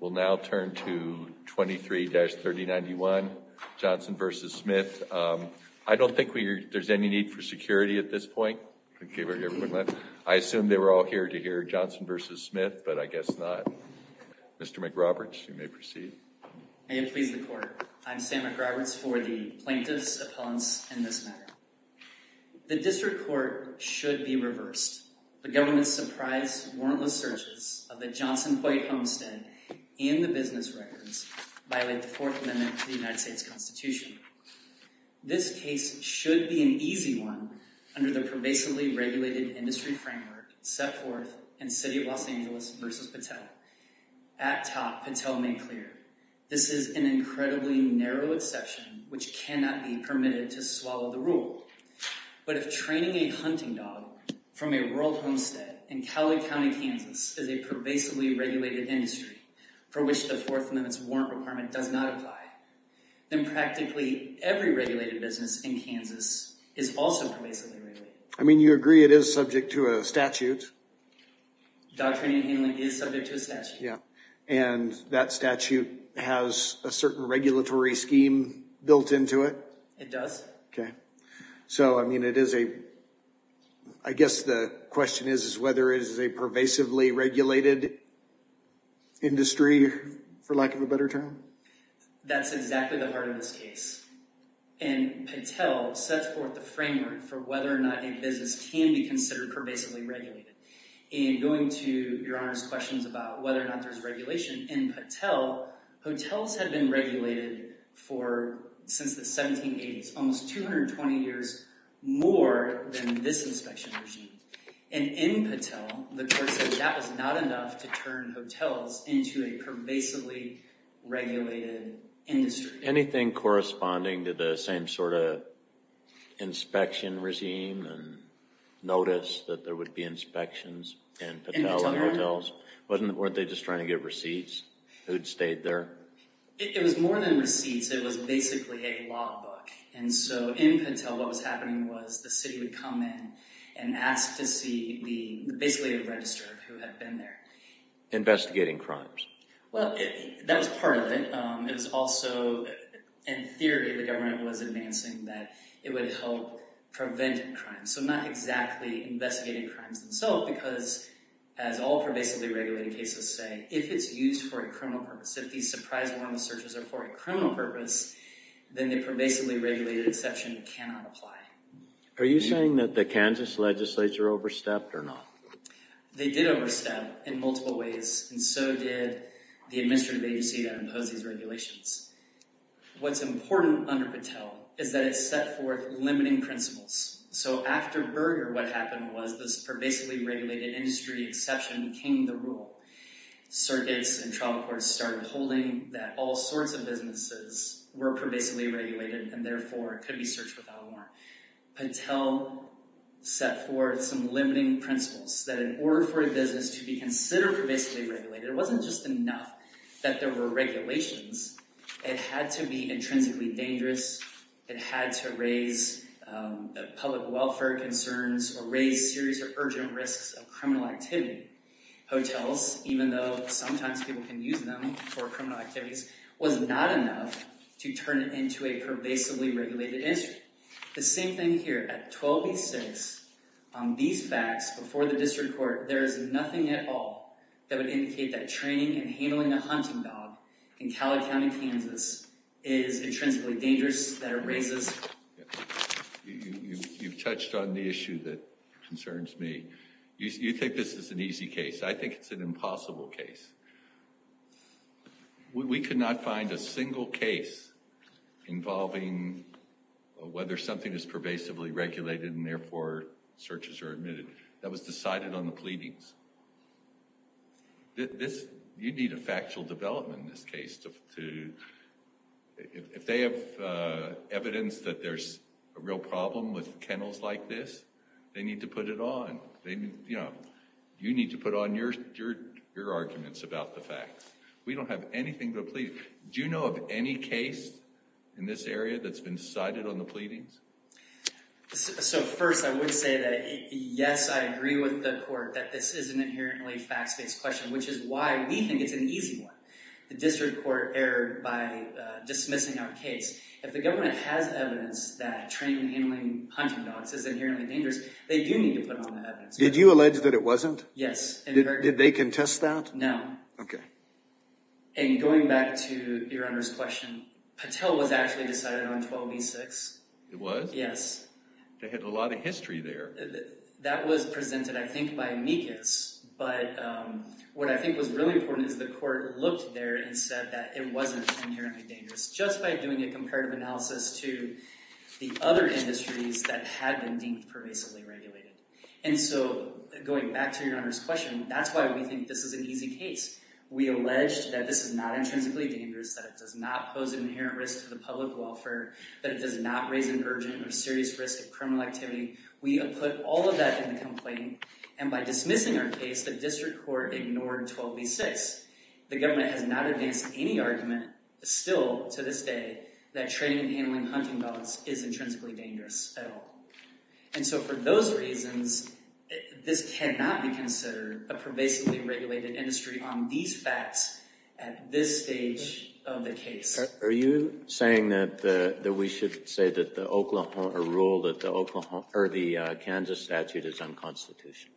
We'll now turn to 23-3091 Johnson v. Smith. I don't think there's any need for security at this point. I assume they were all here to hear Johnson v. Smith, but I guess not. Mr. McRoberts, you may proceed. May it please the court, I'm Sam McRoberts for the plaintiffs opponents in this matter. The district court should be reversed. The government's surprise warrantless searches of the Johnson White homestead in the business records violate the Fourth Amendment to the United States Constitution. This case should be an easy one under the pervasively regulated industry framework set forth in City of Los Angeles v. Patel. At top, Patel made clear, this is an incredibly narrow exception which cannot be permitted to swallow the rule. But if training a hunting dog from a rural homestead in Cowley County, Kansas is a pervasively regulated industry for which the Fourth Amendment's warrant requirement does not apply, then practically every regulated business in Kansas is also pervasively regulated. I mean, you agree it is subject to a statute? Dog training and handling is subject to a statute. Yeah. And that statute has a certain regulatory scheme built into it? It does. Okay. So, I mean, it is a, I guess the question is, is whether it is a pervasively regulated industry for lack of a better term? That's exactly the heart of this case. And Patel sets forth the framework for whether or not a business can be considered pervasively regulated. And going to Your Honor's questions about whether or not there's regulation, in Patel, hotels had been regulated for, since the 1780s, almost 220 years more than this inspection regime. And in Patel, the court said that was not enough to turn hotels into a pervasively regulated industry. Anything corresponding to the same sort of inspection regime and notice that there would be inspections in Patel and hotels? Weren't they just trying to get receipts? Who'd stayed there? It was more than receipts. It was basically a law book. And so, in Patel, what was happening was the city would come in and ask to see the, basically, a registrar who had been there. Investigating crimes? Well, that was part of it. It was also, in theory, the government was advancing that it would help prevent crimes. So not exactly investigating crimes themselves, because as all pervasively regulated cases say, if it's used for a criminal purpose, if these surprise warrantless searches are for a criminal purpose, then the pervasively regulated exception cannot apply. Are you saying that the Kansas legislature overstepped or not? They did overstep in multiple ways, and so did the administrative agency that imposed these regulations. What's important under Patel is that it set forth limiting principles. So after Berger, what happened was this pervasively regulated industry exception became the rule. Circuits and trial courts started holding that all sorts of businesses were pervasively regulated, and therefore could be searched without a warrant. Patel set forth some limiting principles, that in order for a business to be considered pervasively regulated, it wasn't just enough that there were regulations. It had to be public welfare concerns, or raise serious or urgent risks of criminal activity. Hotels, even though sometimes people can use them for criminal activities, was not enough to turn it into a pervasively regulated industry. The same thing here. At 1286, on these facts, before the district court, there is nothing at all that would indicate that training and handling a hunting dog in Collard County, Kansas, is intrinsically dangerous, that it raises... You've touched on the issue that concerns me. You think this is an easy case. I think it's an impossible case. We could not find a single case involving whether something is pervasively regulated, and therefore searches are admitted. That was decided on the pleadings. You need a factual development in this case. If they have evidence that there's a real problem with kennels like this, they need to put it on. You need to put on your arguments about the facts. We don't have anything to plead. Do you know of any case in this area that's been decided on the pleadings? So first, I would say that yes, I agree with the court that this is an inherently facts-based question, which is why we think it's an easy one. The district court erred by dismissing our case. If the government has evidence that training and handling hunting dogs is inherently dangerous, they do need to put on the evidence. Did you allege that it wasn't? Yes. Did they contest that? No. Okay. And going back to your Honor's question, Patel was actually decided on 1286. It was? Yes. They had a lot of history there. That was presented, I think, by amicus. But what I think was really important is the court looked there and said that it wasn't inherently dangerous, just by doing a comparative analysis to the other industries that had been deemed pervasively regulated. And so going back to your Honor's question, that's why we think this is an easy case. We alleged that this is not intrinsically dangerous, that it does not pose an inherent risk to the public welfare, that it does not raise an urgent or serious risk of criminal activity. We put all of that in the complaint. And by dismissing our case, the district court ignored 1286. The government has not advanced any argument still to this day that training and handling hunting dogs is intrinsically dangerous at all. And so for those reasons, this cannot be considered a pervasively regulated industry on these facts at this stage of the case. Are you saying that we should say that the rule that the Kansas statute is unconstitutional?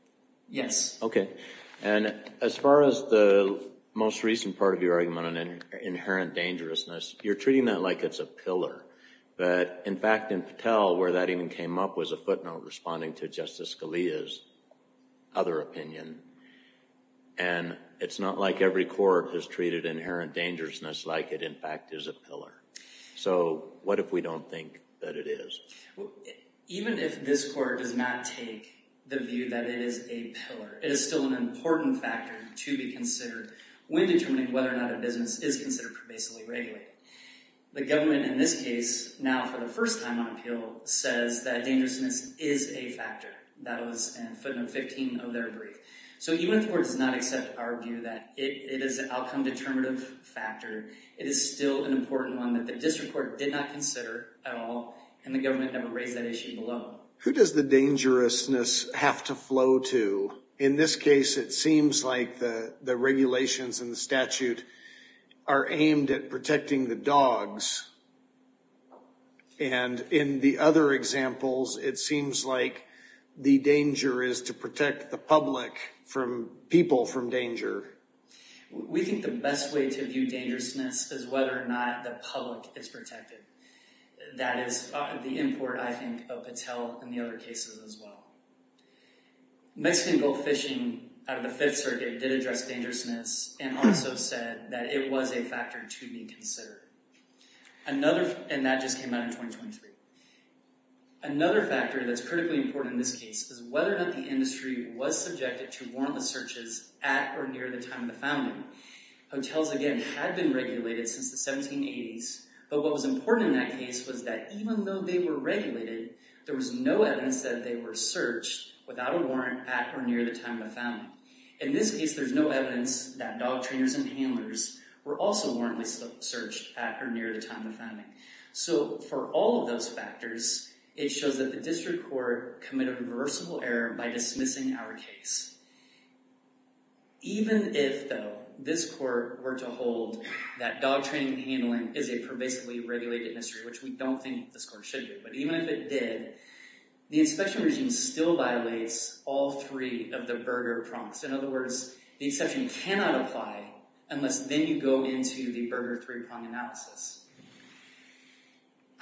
Yes. OK. And as far as the most recent part of your argument on inherent dangerousness, you're treating that like it's a pillar. But in fact, in Patel, where that even came up, was a footnote responding to Justice Scalia's other opinion. And it's not like every court has treated inherent dangerousness like it, in fact, is a pillar. So what if we don't think that it is? Even if this court does not take the view that it is a pillar, it is still an important factor to be considered when determining whether or not a business is considered pervasively regulated. The government, in this case, now for the first time on appeal, says that dangerousness is a factor. That was in footnote 15 of their brief. So even if the court does not accept our view that it is an outcome determinative factor, it is still an important one that the district court did not consider at all, and the government never raised that issue below. Who does the dangerousness have to flow to? In this case, it seems like the regulations in the statute are aimed at protecting the dogs. And in the other examples, it seems like the danger is to protect the public from people from danger. We think the best way to view dangerousness is whether or not the public is protected. That is the import, I think, of Patel in the other cases as well. Mexican gold fishing out of the Fifth Circuit did address dangerousness and also said that it was a factor to be considered. And that just came out in 2023. Another factor that's critically important in this case is whether or not the industry was subjected to warrantless searches at or near the time of the founding. Hotels, again, had been regulated since the 1780s, but what was important in that case was that even though they were regulated, there was no evidence that they were searched without a warrant at or near the time of the founding. In this case, there's no evidence that dog trainers and handlers So for all of those factors, it shows that the district court committed reversible error by dismissing our case. Even if, though, this court were to hold that dog training and handling is a pervasively regulated industry, which we don't think this court should do, but even if it did, the inspection regime still violates all three of the Berger prongs. In other words, the exception cannot apply unless then you go into the Berger three-prong analysis.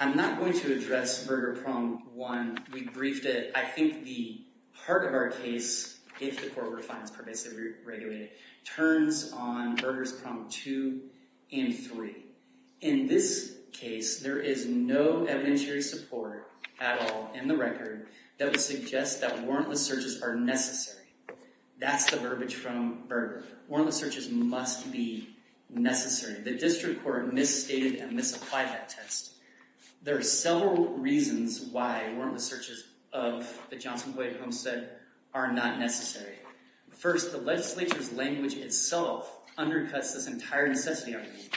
I'm not going to address Berger prong one. We briefed it. I think the part of our case, if the court were to find it's pervasively regulated, turns on Berger's prong two and three. In this case, there is no evidentiary support at all in the record that would suggest that warrantless searches are necessary. That's the verbiage from Berger. Warrantless searches must be necessary. The district court misstated and misapplied that test. There are several reasons why warrantless searches of the Johnson-Coyett homestead are not necessary. First, the legislature's language itself undercuts this entire necessity argument.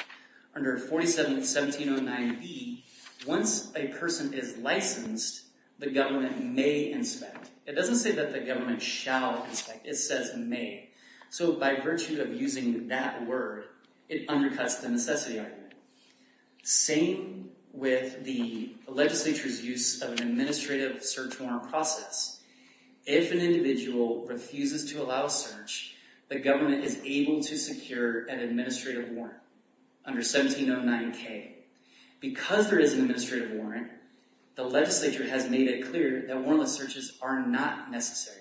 Under 47-1709b, once a person is licensed, the government may inspect. It doesn't say that the government shall inspect. It says may. By virtue of using that word, it undercuts the necessity argument. Same with the legislature's use of an administrative search warrant process. If an individual refuses to allow search, the government is able to secure an administrative warrant under 1709k. Because there is an administrative warrant, the legislature has made it clear that warrantless searches are not necessary.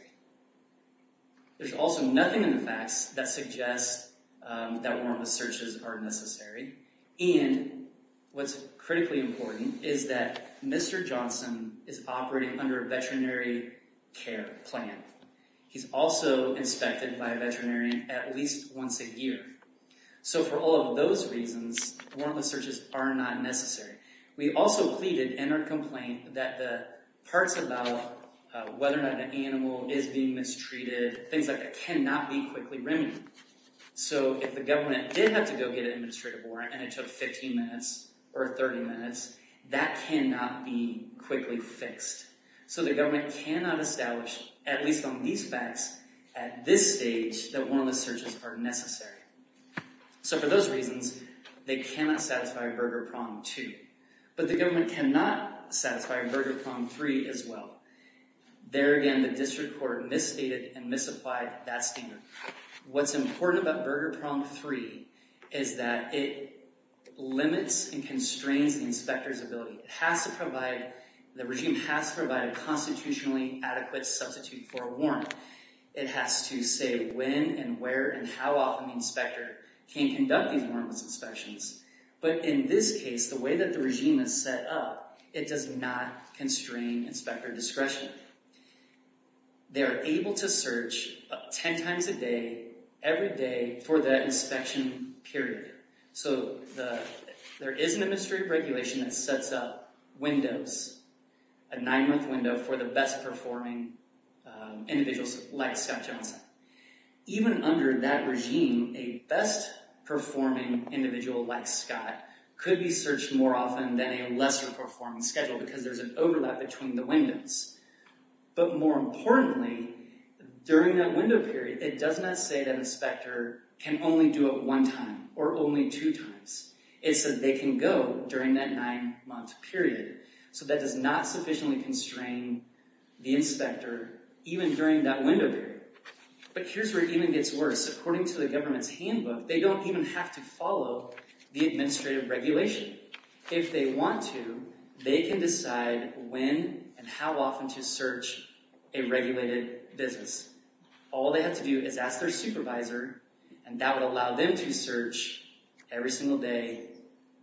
There's also nothing in the facts that suggests that warrantless searches are necessary. And what's critically important is that Mr. Johnson is operating under a veterinary care plan. He's also inspected by a veterinarian at least once a year. So for all of those reasons, warrantless searches are not necessary. We also pleaded in our complaint that the parts about whether or not an animal is being mistreated, things like that, cannot be quickly remedied. So if the government did have to go get an administrative warrant and it took 15 minutes or 30 minutes, that cannot be quickly fixed. So the government cannot establish, at least on these facts, at this stage that warrantless searches are necessary. So for those reasons, they cannot satisfy Burger Prong 2. But the government cannot satisfy Burger Prong 3 as well. There again, the district court misstated and misapplied that standard. What's important about Burger Prong 3 is that it limits and constrains the inspector's ability. It has to provide, the regime has to provide a constitutionally adequate substitute for a warrant. It has to say when and where and how often the inspector can conduct these warrantless inspections. But in this case, the way that the regime is set up, it does not constrain inspector discretion. They are able to search 10 times a day, every day for that inspection period. So there is an administrative regulation that sets up windows, a nine-month window for the best performing individuals like Scott Johnson. Even under that regime, a best performing individual like Scott could be searched more often than a lesser performing schedule because there's an overlap between the windows. But more importantly, during that window period, it does not say that inspector can only do it one time or only two times. It says they can go during that nine-month period. So that does not sufficiently constrain the inspector, even during that window period. But here's where it even gets worse. According to the government's handbook, they don't even have to follow the administrative regulation. If they want to, they can decide when and how often to search a regulated business. All they have to do is ask their supervisor and that would allow them to search every single day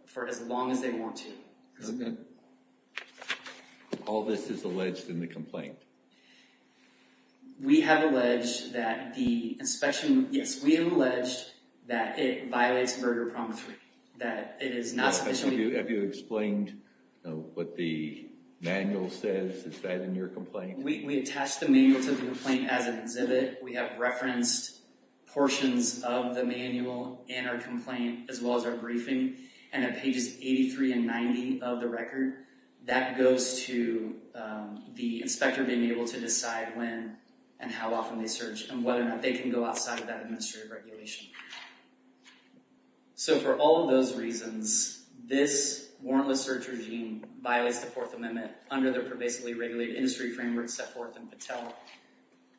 for as long as they want to. All this is alleged in the complaint? We have alleged that the inspection, yes, we have alleged that it violates burger promissory, that it is not sufficient. Have you explained what the manual says? Is that in your complaint? We attach the manual to the complaint as an exhibit. We have referenced portions of the manual in our complaint as well as our briefing and at pages 83 and 90 of the record, that goes to the inspector being able to decide when and how often they search and whether or not they can go outside of that administrative regulation. So for all of those reasons, this warrantless search violates the Fourth Amendment under the pervasively regulated industry framework set forth in Patel.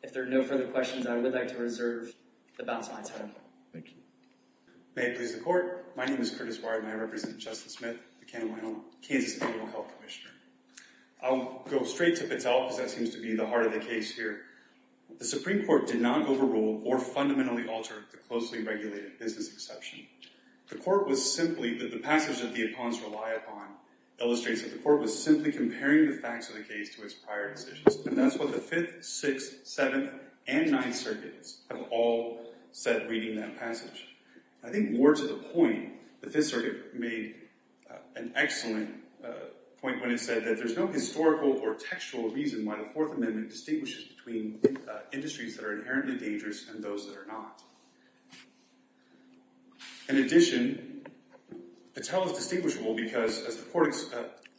If there are no further questions, I would like to reserve the balance of my time. Thank you. May it please the court. My name is Curtis Warren and I represent Justice Smith, the Kansas Federal Health Commissioner. I'll go straight to Patel because that seems to be the heart of the case here. The Supreme Court did not overrule or fundamentally alter the closely that the appellants rely upon illustrates that the court was simply comparing the facts of the case to its prior decisions. And that's what the 5th, 6th, 7th, and 9th circuits have all said reading that passage. I think more to the point, the 5th circuit made an excellent point when it said that there's no historical or textual reason why the Fourth Amendment distinguishes between industries that are inherently dangerous and those that are not. In addition, Patel is distinguishable because, as the court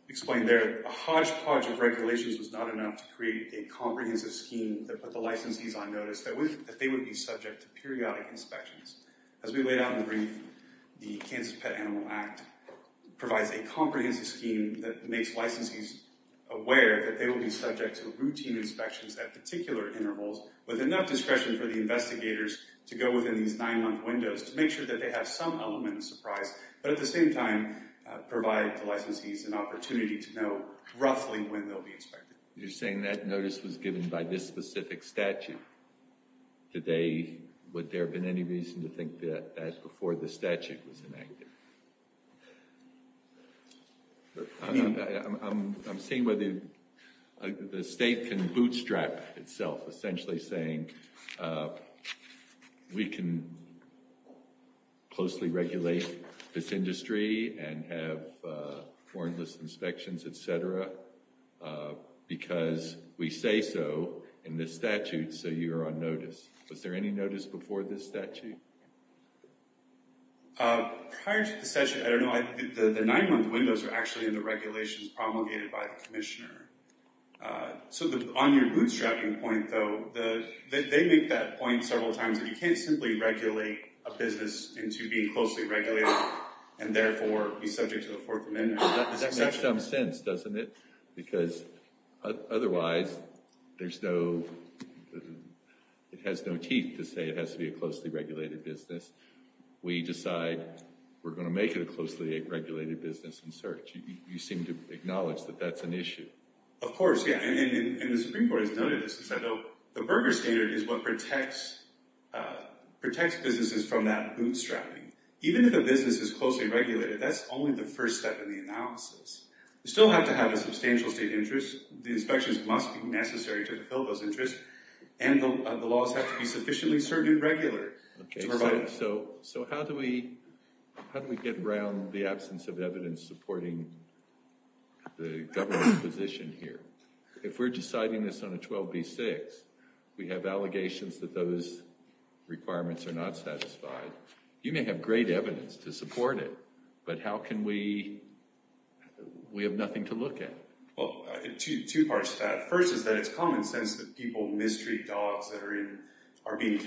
explained there, a hodgepodge of regulations was not enough to create a comprehensive scheme that put the licensees on notice that they would be subject to periodic inspections. As we laid out in the brief, the Kansas Pet Animal Act provides a comprehensive scheme that makes licensees aware that they will be subject to routine inspections at particular intervals with enough discretion for the investigators to go within these nine-month windows to make sure that they have some element of surprise, but at the same time provide the licensees an opportunity to know roughly when they'll be inspected. You're saying that notice was given by this specific statute. Would there have been any reason to think that before the statute was enacted? I'm seeing whether the state can bootstrap itself, essentially saying we can closely regulate this industry and have warrantless inspections, etc., because we say so in this statute, so you're on notice. Was there any notice before this statute? Prior to the session, I don't know. The nine-month windows are actually in the regulations promulgated by the commissioner. On your bootstrapping point, though, they make that point several times that you can't simply regulate a business into being closely regulated and therefore be subject to the Fourth Amendment. That makes some sense, doesn't it? Because otherwise, it has no teeth to say it has to be a closely regulated business. We decide we're going to make it a closely regulated business in search. You seem to acknowledge that that's an issue. Of course, yeah, and the Supreme Court has noted this. The Berger Standard is what protects businesses from that bootstrapping. Even if a business is closely regulated, that's only the first step in the analysis. You still have to have a substantial state interest. The inspections must be necessary to Okay, so how do we get around the absence of evidence supporting the government's position here? If we're deciding this on a 12b-6, we have allegations that those requirements are not satisfied. You may have great evidence to support it, but how can we have nothing to look at? Well, two parts to that. First is that it's common sense that people I think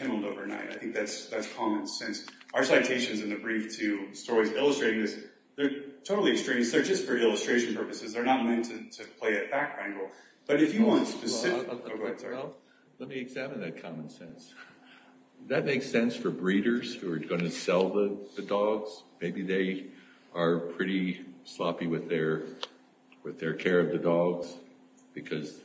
that's common sense. Our citations in the brief to stories illustrating this, they're totally extreme. They're just for illustration purposes. They're not meant to play a back angle, but if you want specific... Well, let me examine that common sense. That makes sense for breeders who are going to sell the dogs. Maybe they are pretty sloppy with their care of the dogs because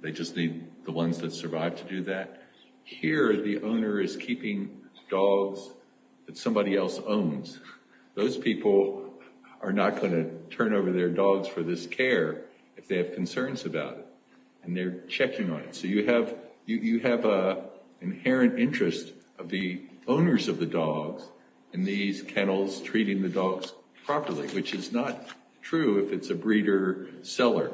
they just need the ones that survive to do that. Here, the owner is keeping dogs that somebody else owns. Those people are not going to turn over their dogs for this care if they have concerns about it and they're checking on it. So you have an inherent interest of the owners of the dogs in these kennels treating the dogs properly, which is not true if it's a breeder-seller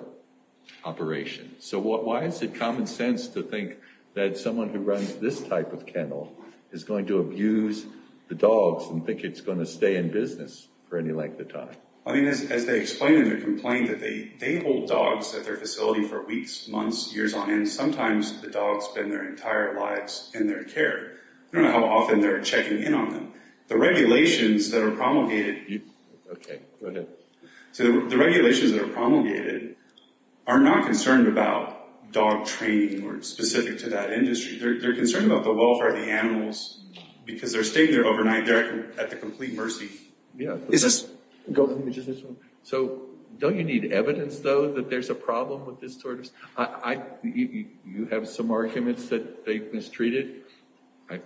operation. So why is it common sense to think that someone who runs this type of kennel is going to abuse the dogs and think it's going to stay in business for any length of time? I mean, as they explain in the complaint that they hold dogs at their facility for weeks, months, years on end, sometimes the dogs spend their entire lives in their care. I don't know how often they're checking in on them. The regulations that are promulgated... Okay, go ahead. So the regulations that are promulgated are not concerned about dog training or specific to that industry. They're concerned about the welfare of the animals because they're staying there overnight. They're at the complete mercy. Yeah. So don't you need evidence, though, that there's a problem with this sort of... You have some arguments that they mistreated.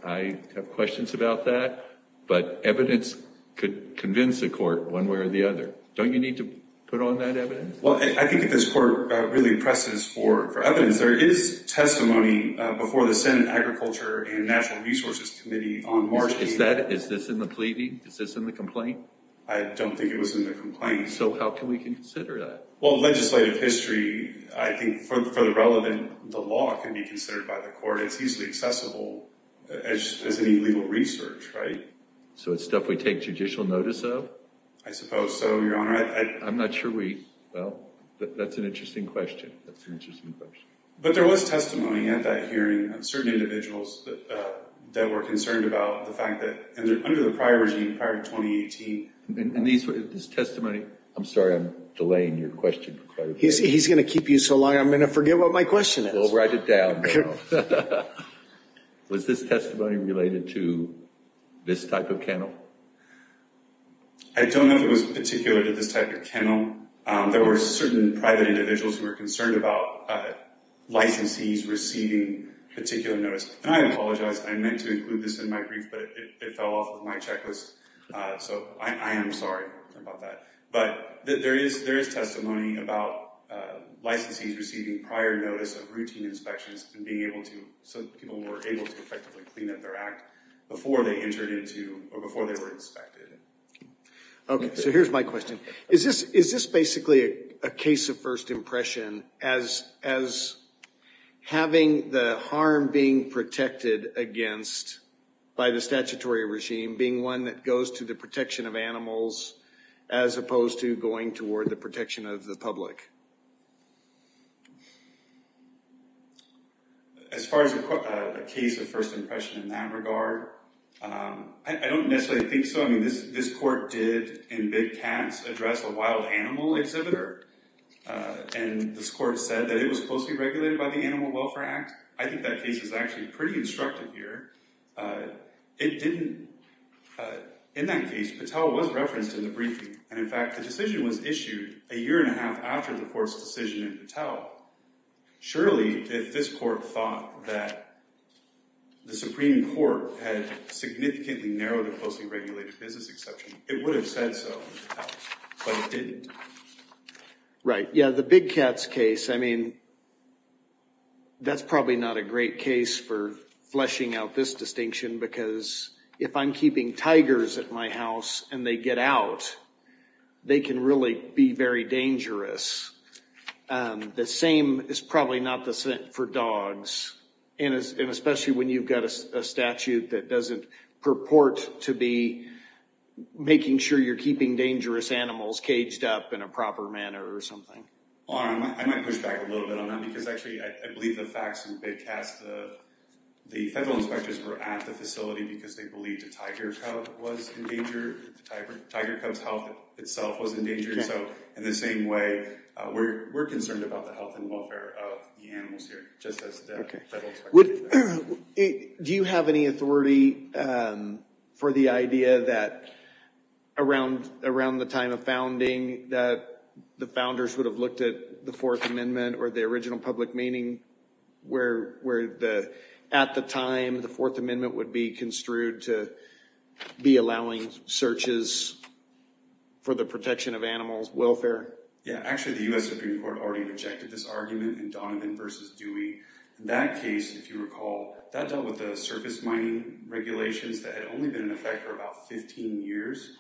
I have questions about that, but evidence could convince a court one way or the other. Don't you need to put on that evidence? Well, I think if this court really presses for evidence, there is testimony before the Senate Agriculture and Natural Resources Committee on March 8th. Is this in the pleading? Is this in the complaint? I don't think it was in the complaint. So how can we consider that? Well, legislative history, I think for the relevant, the law can be considered by the court. It's easily accessible as any legal research, right? So it's stuff we take judicial notice of? I suppose so, Your Honor. I'm not sure we... Well, that's an interesting question. That's an interesting question. But there was testimony at that hearing of certain individuals that were concerned about the fact that under the prior regime, prior to 2018... This testimony... I'm sorry, I'm delaying your question quite a bit. He's going to keep you so long, I'm going to forget what my question is. Well, write it down now. Was this testimony related to this type of kennel? I don't know if it was particular to this type of kennel. There were certain private individuals who were concerned about licensees receiving particular notice. And I apologize, I meant to include this in my brief, but it fell off of my checklist. So I am sorry about that. But there is testimony about licensees receiving prior notice of routine inspections and being able to... So people were able to effectively clean up their act before they entered into... Before they were inspected. Okay, so here's my question. Is this basically a case of first impression as having the harm being protected against by the statutory regime being one that goes to the protection of animals as opposed to going toward the protection of the public? As far as a case of first impression in that regard, I don't necessarily think so. I mean, this court did in Big Cats address a wild animal exhibitor. And this court said that it was closely regulated by the Animal Welfare Act. I think that case is actually pretty instructive here. It didn't... In that case, Patel was referenced in the briefing. And in fact, the decision was issued a year and a half after the court's decision in Patel. Surely, if this court thought that the Supreme Court had significantly narrowed the closely regulated business exception, it would have said so, but it didn't. Right. Yeah, the Big Cats case, I mean, that's probably not a great case for fleshing out this distinction because if I'm keeping tigers at my house and they get out, they can really be very dangerous. The same is probably not the same for dogs. And especially when you've got a statute that doesn't purport to be making sure you're keeping dangerous animals caged up in a proper manner or something. Well, I might push back a little bit on that because actually, I believe the facts in Big Cats, the federal inspectors were at the facility because they believed a tiger cub was in danger. Tiger cub's health itself was in danger. So in the same way, we're concerned about the health and welfare of the animals here, just as the federal inspectors are. Do you have any authority for the idea that around the time of founding, that the founders would have looked at the Fourth Amendment or the original public meaning where at the time the Fourth Amendment would be construed to be allowing searches for the protection of animals' welfare? Yeah, actually, the U.S. Supreme Court already rejected this argument in Donovan v. Dewey. In that case, if you recall, that dealt with the surface mining regulations that had only been in effect for about 15 years.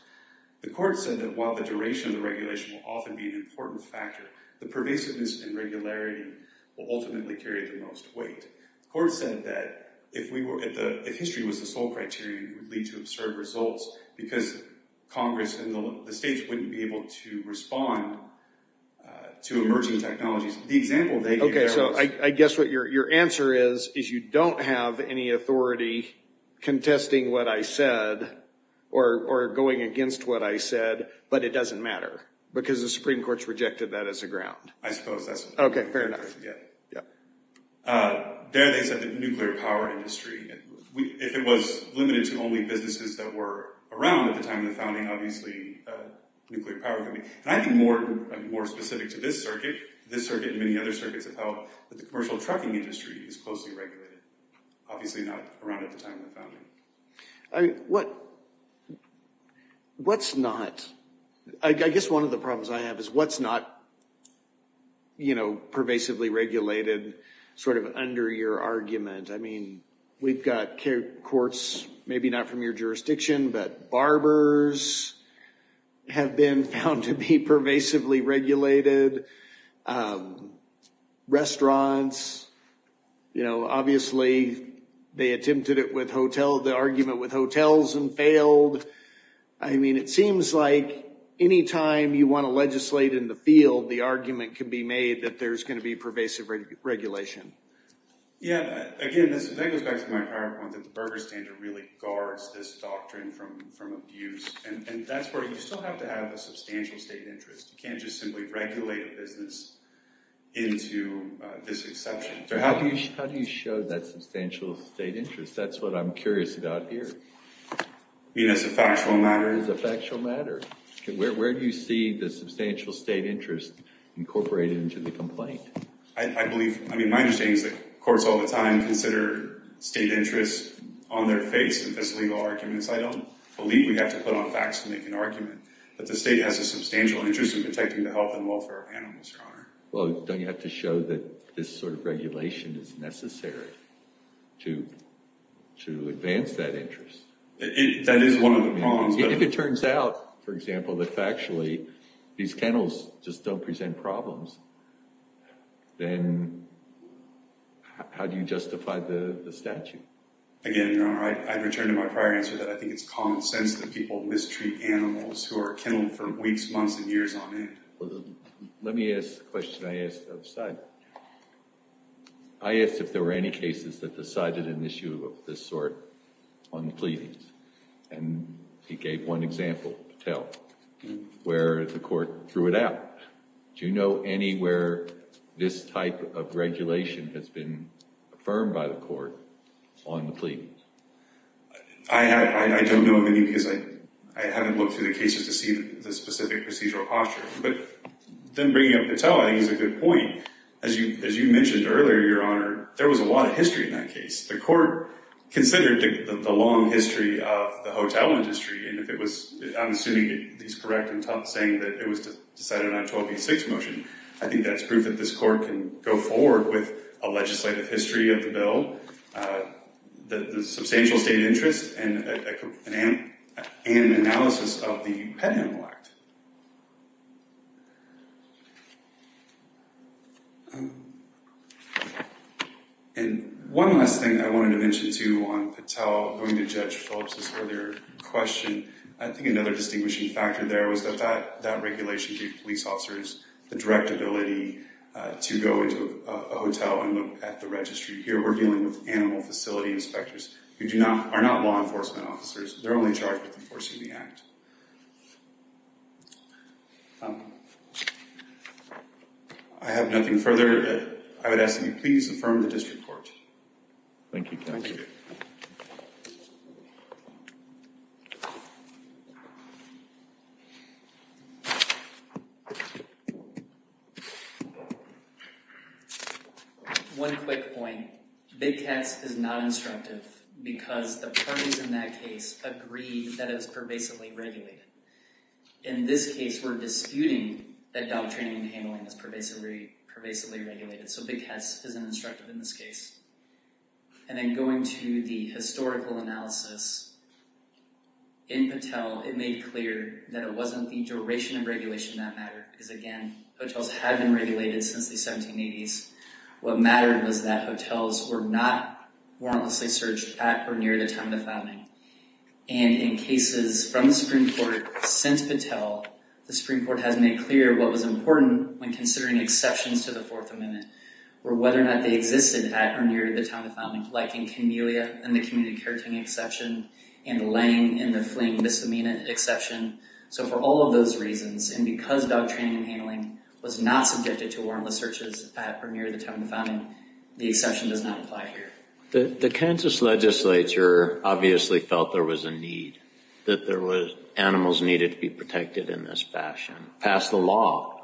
The court said that while the duration of the regulation will often be an important factor, the pervasiveness and regularity will ultimately carry the most weight. Court said that if history was the sole criteria, it would lead to absurd results because Congress and the states wouldn't be able to respond to emerging technologies. The example they gave there was- Okay, so I guess what your answer is, is you don't have any authority contesting what I said or going against what I said, but it doesn't matter because the Supreme Court's rejected that as a ground. I suppose that's- Okay, fair enough. Yeah, yeah. There, they said the nuclear power industry, if it was limited to only businesses that were around at the time of the founding, obviously, nuclear power could be. And I think more specific to this circuit, this circuit and many other circuits of health, that the commercial trucking industry is closely regulated, obviously, not around at the time of the founding. I mean, what's not, I guess one of the problems I have is what's not pervasively regulated sort of under your argument. I mean, we've got courts, maybe not from your jurisdiction, but barbers have been found to be pervasively regulated. Restaurants, obviously, they attempted it with hotel, the argument with hotels and failed. I mean, it seems like anytime you want to legislate in the field, the argument can be made that there's going to be pervasive regulation. Yeah. Again, this goes back to my point that the Berger standard really guards this doctrine from abuse. And that's where you still have to have a substantial state interest. You can't just simply regulate a business into this exception. How do you show that substantial state interest? That's what I'm curious about here. I mean, it's a factual matter. It is a factual matter. Where do you see the substantial state interest incorporated into the complaint? I believe, I mean, my understanding is that courts all the time consider state interests on their face if there's legal arguments. I don't believe we have to put on facts to make an argument. But the state has a substantial interest in protecting the health and welfare of animals, Your Honor. Well, don't you have to show that this sort of regulation is necessary to advance that interest? That is one of the problems. If it turns out, for example, that factually these kennels just don't present problems, then how do you justify the statute? Again, Your Honor, I'd return to my prior answer that I think it's common sense that people mistreat animals who are kenneled for weeks, months, and years on end. Let me ask the question I asked the other side. I asked if there were any cases that decided an issue of this sort on the pleadings. And he gave one example to tell where the court threw it out. Do you know anywhere this type of regulation has been affirmed by the court on the pleadings? I don't know of any because I haven't looked through the cases to see the specific procedural posture. But then bringing up Patel, I think he's a good point. As you mentioned earlier, Your Honor, there was a lot of history in that case. The court considered the long history of the hotel industry. And if it was, I'm assuming he's correct in saying that it was decided on a 1286 motion, I think that's proof that this court can go forward with a legislative history of the bill, a substantial state interest, and an analysis of the Pet Handle Act. And one last thing I wanted to mention too on Patel going to Judge Phillips' earlier question. I think another distinguishing factor there was that that regulation gave police officers the direct ability to go into a hotel and look at the registry. Here we're dealing with animal facility inspectors who are not law enforcement officers. They're only charged with enforcing the act. I have nothing further. I would ask that you please affirm the district court. Thank you, counsel. Thank you. One quick point. Big Cats is not instructive because the parties in that case agreed that it was pervasively regulated. In this case, we're disputing that dog training and handling is pervasively regulated. So Big Cats isn't instructive in this case. And then going to the historical analysis, in Patel, it made clear that it wasn't the duration of regulation that mattered. Because again, hotels have been regulated since the 1780s. What mattered was that hotels were not warrantlessly searched at or near the time of the founding. And in cases from the Supreme Court since Patel, the Supreme Court has made clear what was important when considering exceptions to the Fourth Amendment, or whether or not they existed at or near the time of the founding. Like in Camellia, in the community care taking exception, and Lange in the fleeing misdemeanor exception. So for all of those reasons, and because dog training and handling was not subjected to warrantless searches at or near the time of the founding, the exception does not apply here. The Kansas legislature obviously felt there was a need, that animals needed to be protected in this fashion. Pass the law,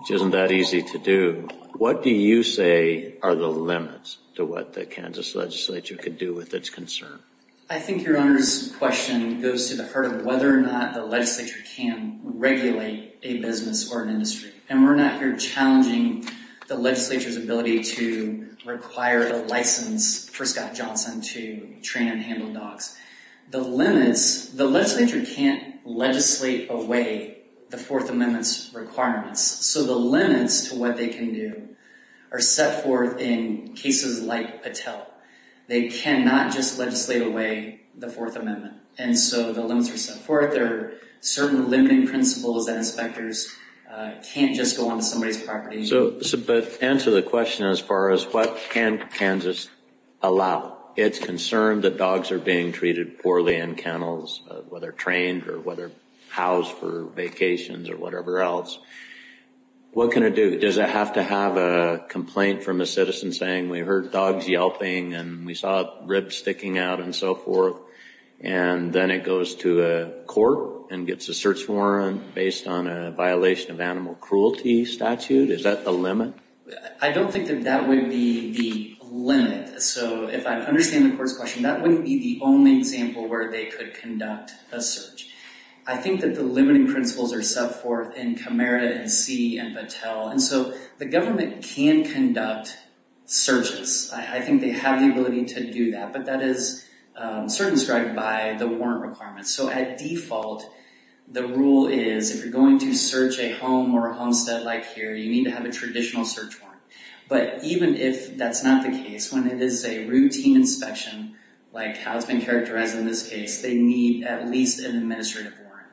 which isn't that easy to do. What do you say are the limits to what the Kansas legislature could do with its concern? I think your Honor's question goes to the heart of whether or not the legislature can regulate a business or an industry. And we're not here challenging the legislature's ability to require a license for Scott Johnson to train and handle dogs. The limits, the legislature can't legislate away the Fourth Amendment's requirements. So the limits to what they can do are set forth in cases like Patel. They cannot just legislate away the Fourth Amendment. And so the limits are set forth. There are certain limiting principles that inspectors can't just go onto somebody's property. So to answer the question as far as what can Kansas allow, it's concerned that dogs are being treated poorly in kennels, whether trained or whether housed for vacations or whatever else. What can it do? Does it have to have a complaint from a citizen saying, we heard dogs yelping and we saw ribs sticking out and so forth? And then it goes to a court and gets a search warrant based on a violation of animal cruelty statute? Is that the limit? I don't think that that would be the limit. So if I understand the court's question, that wouldn't be the only example where they could conduct a search. I think that the limiting principles are set forth in Camerota and See and Patel. And so the government can conduct searches. I think they have the ability to do that, but that is circumscribed by the warrant requirements. So at default, the rule is if you're going to search a home or a homestead like here, you need to have a traditional search warrant. But even if that's not the case, when it is a routine inspection, like how it's been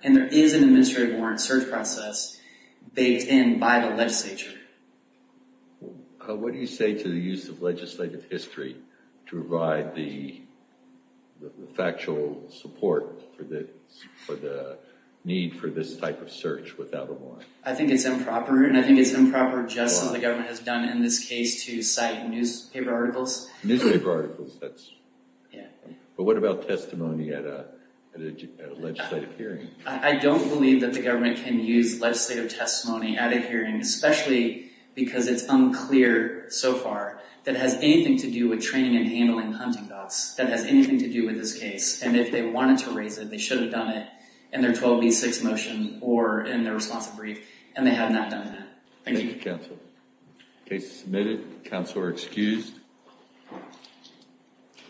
And there is an administrative warrant search process based in by the legislature. What do you say to the use of legislative history to provide the factual support for the need for this type of search without a warrant? I think it's improper. And I think it's improper just as the government has done in this case to cite newspaper articles. Newspaper articles. Yeah. But what about testimony at a legislative hearing? I don't believe that the government can use legislative testimony at a hearing, especially because it's unclear so far that has anything to do with training and handling hunting dogs. That has anything to do with this case. And if they wanted to raise it, they should have done it in their 12B6 motion or in their responsive brief. And they have not done that. Thank you. Case submitted. Counselor excused. Thank you.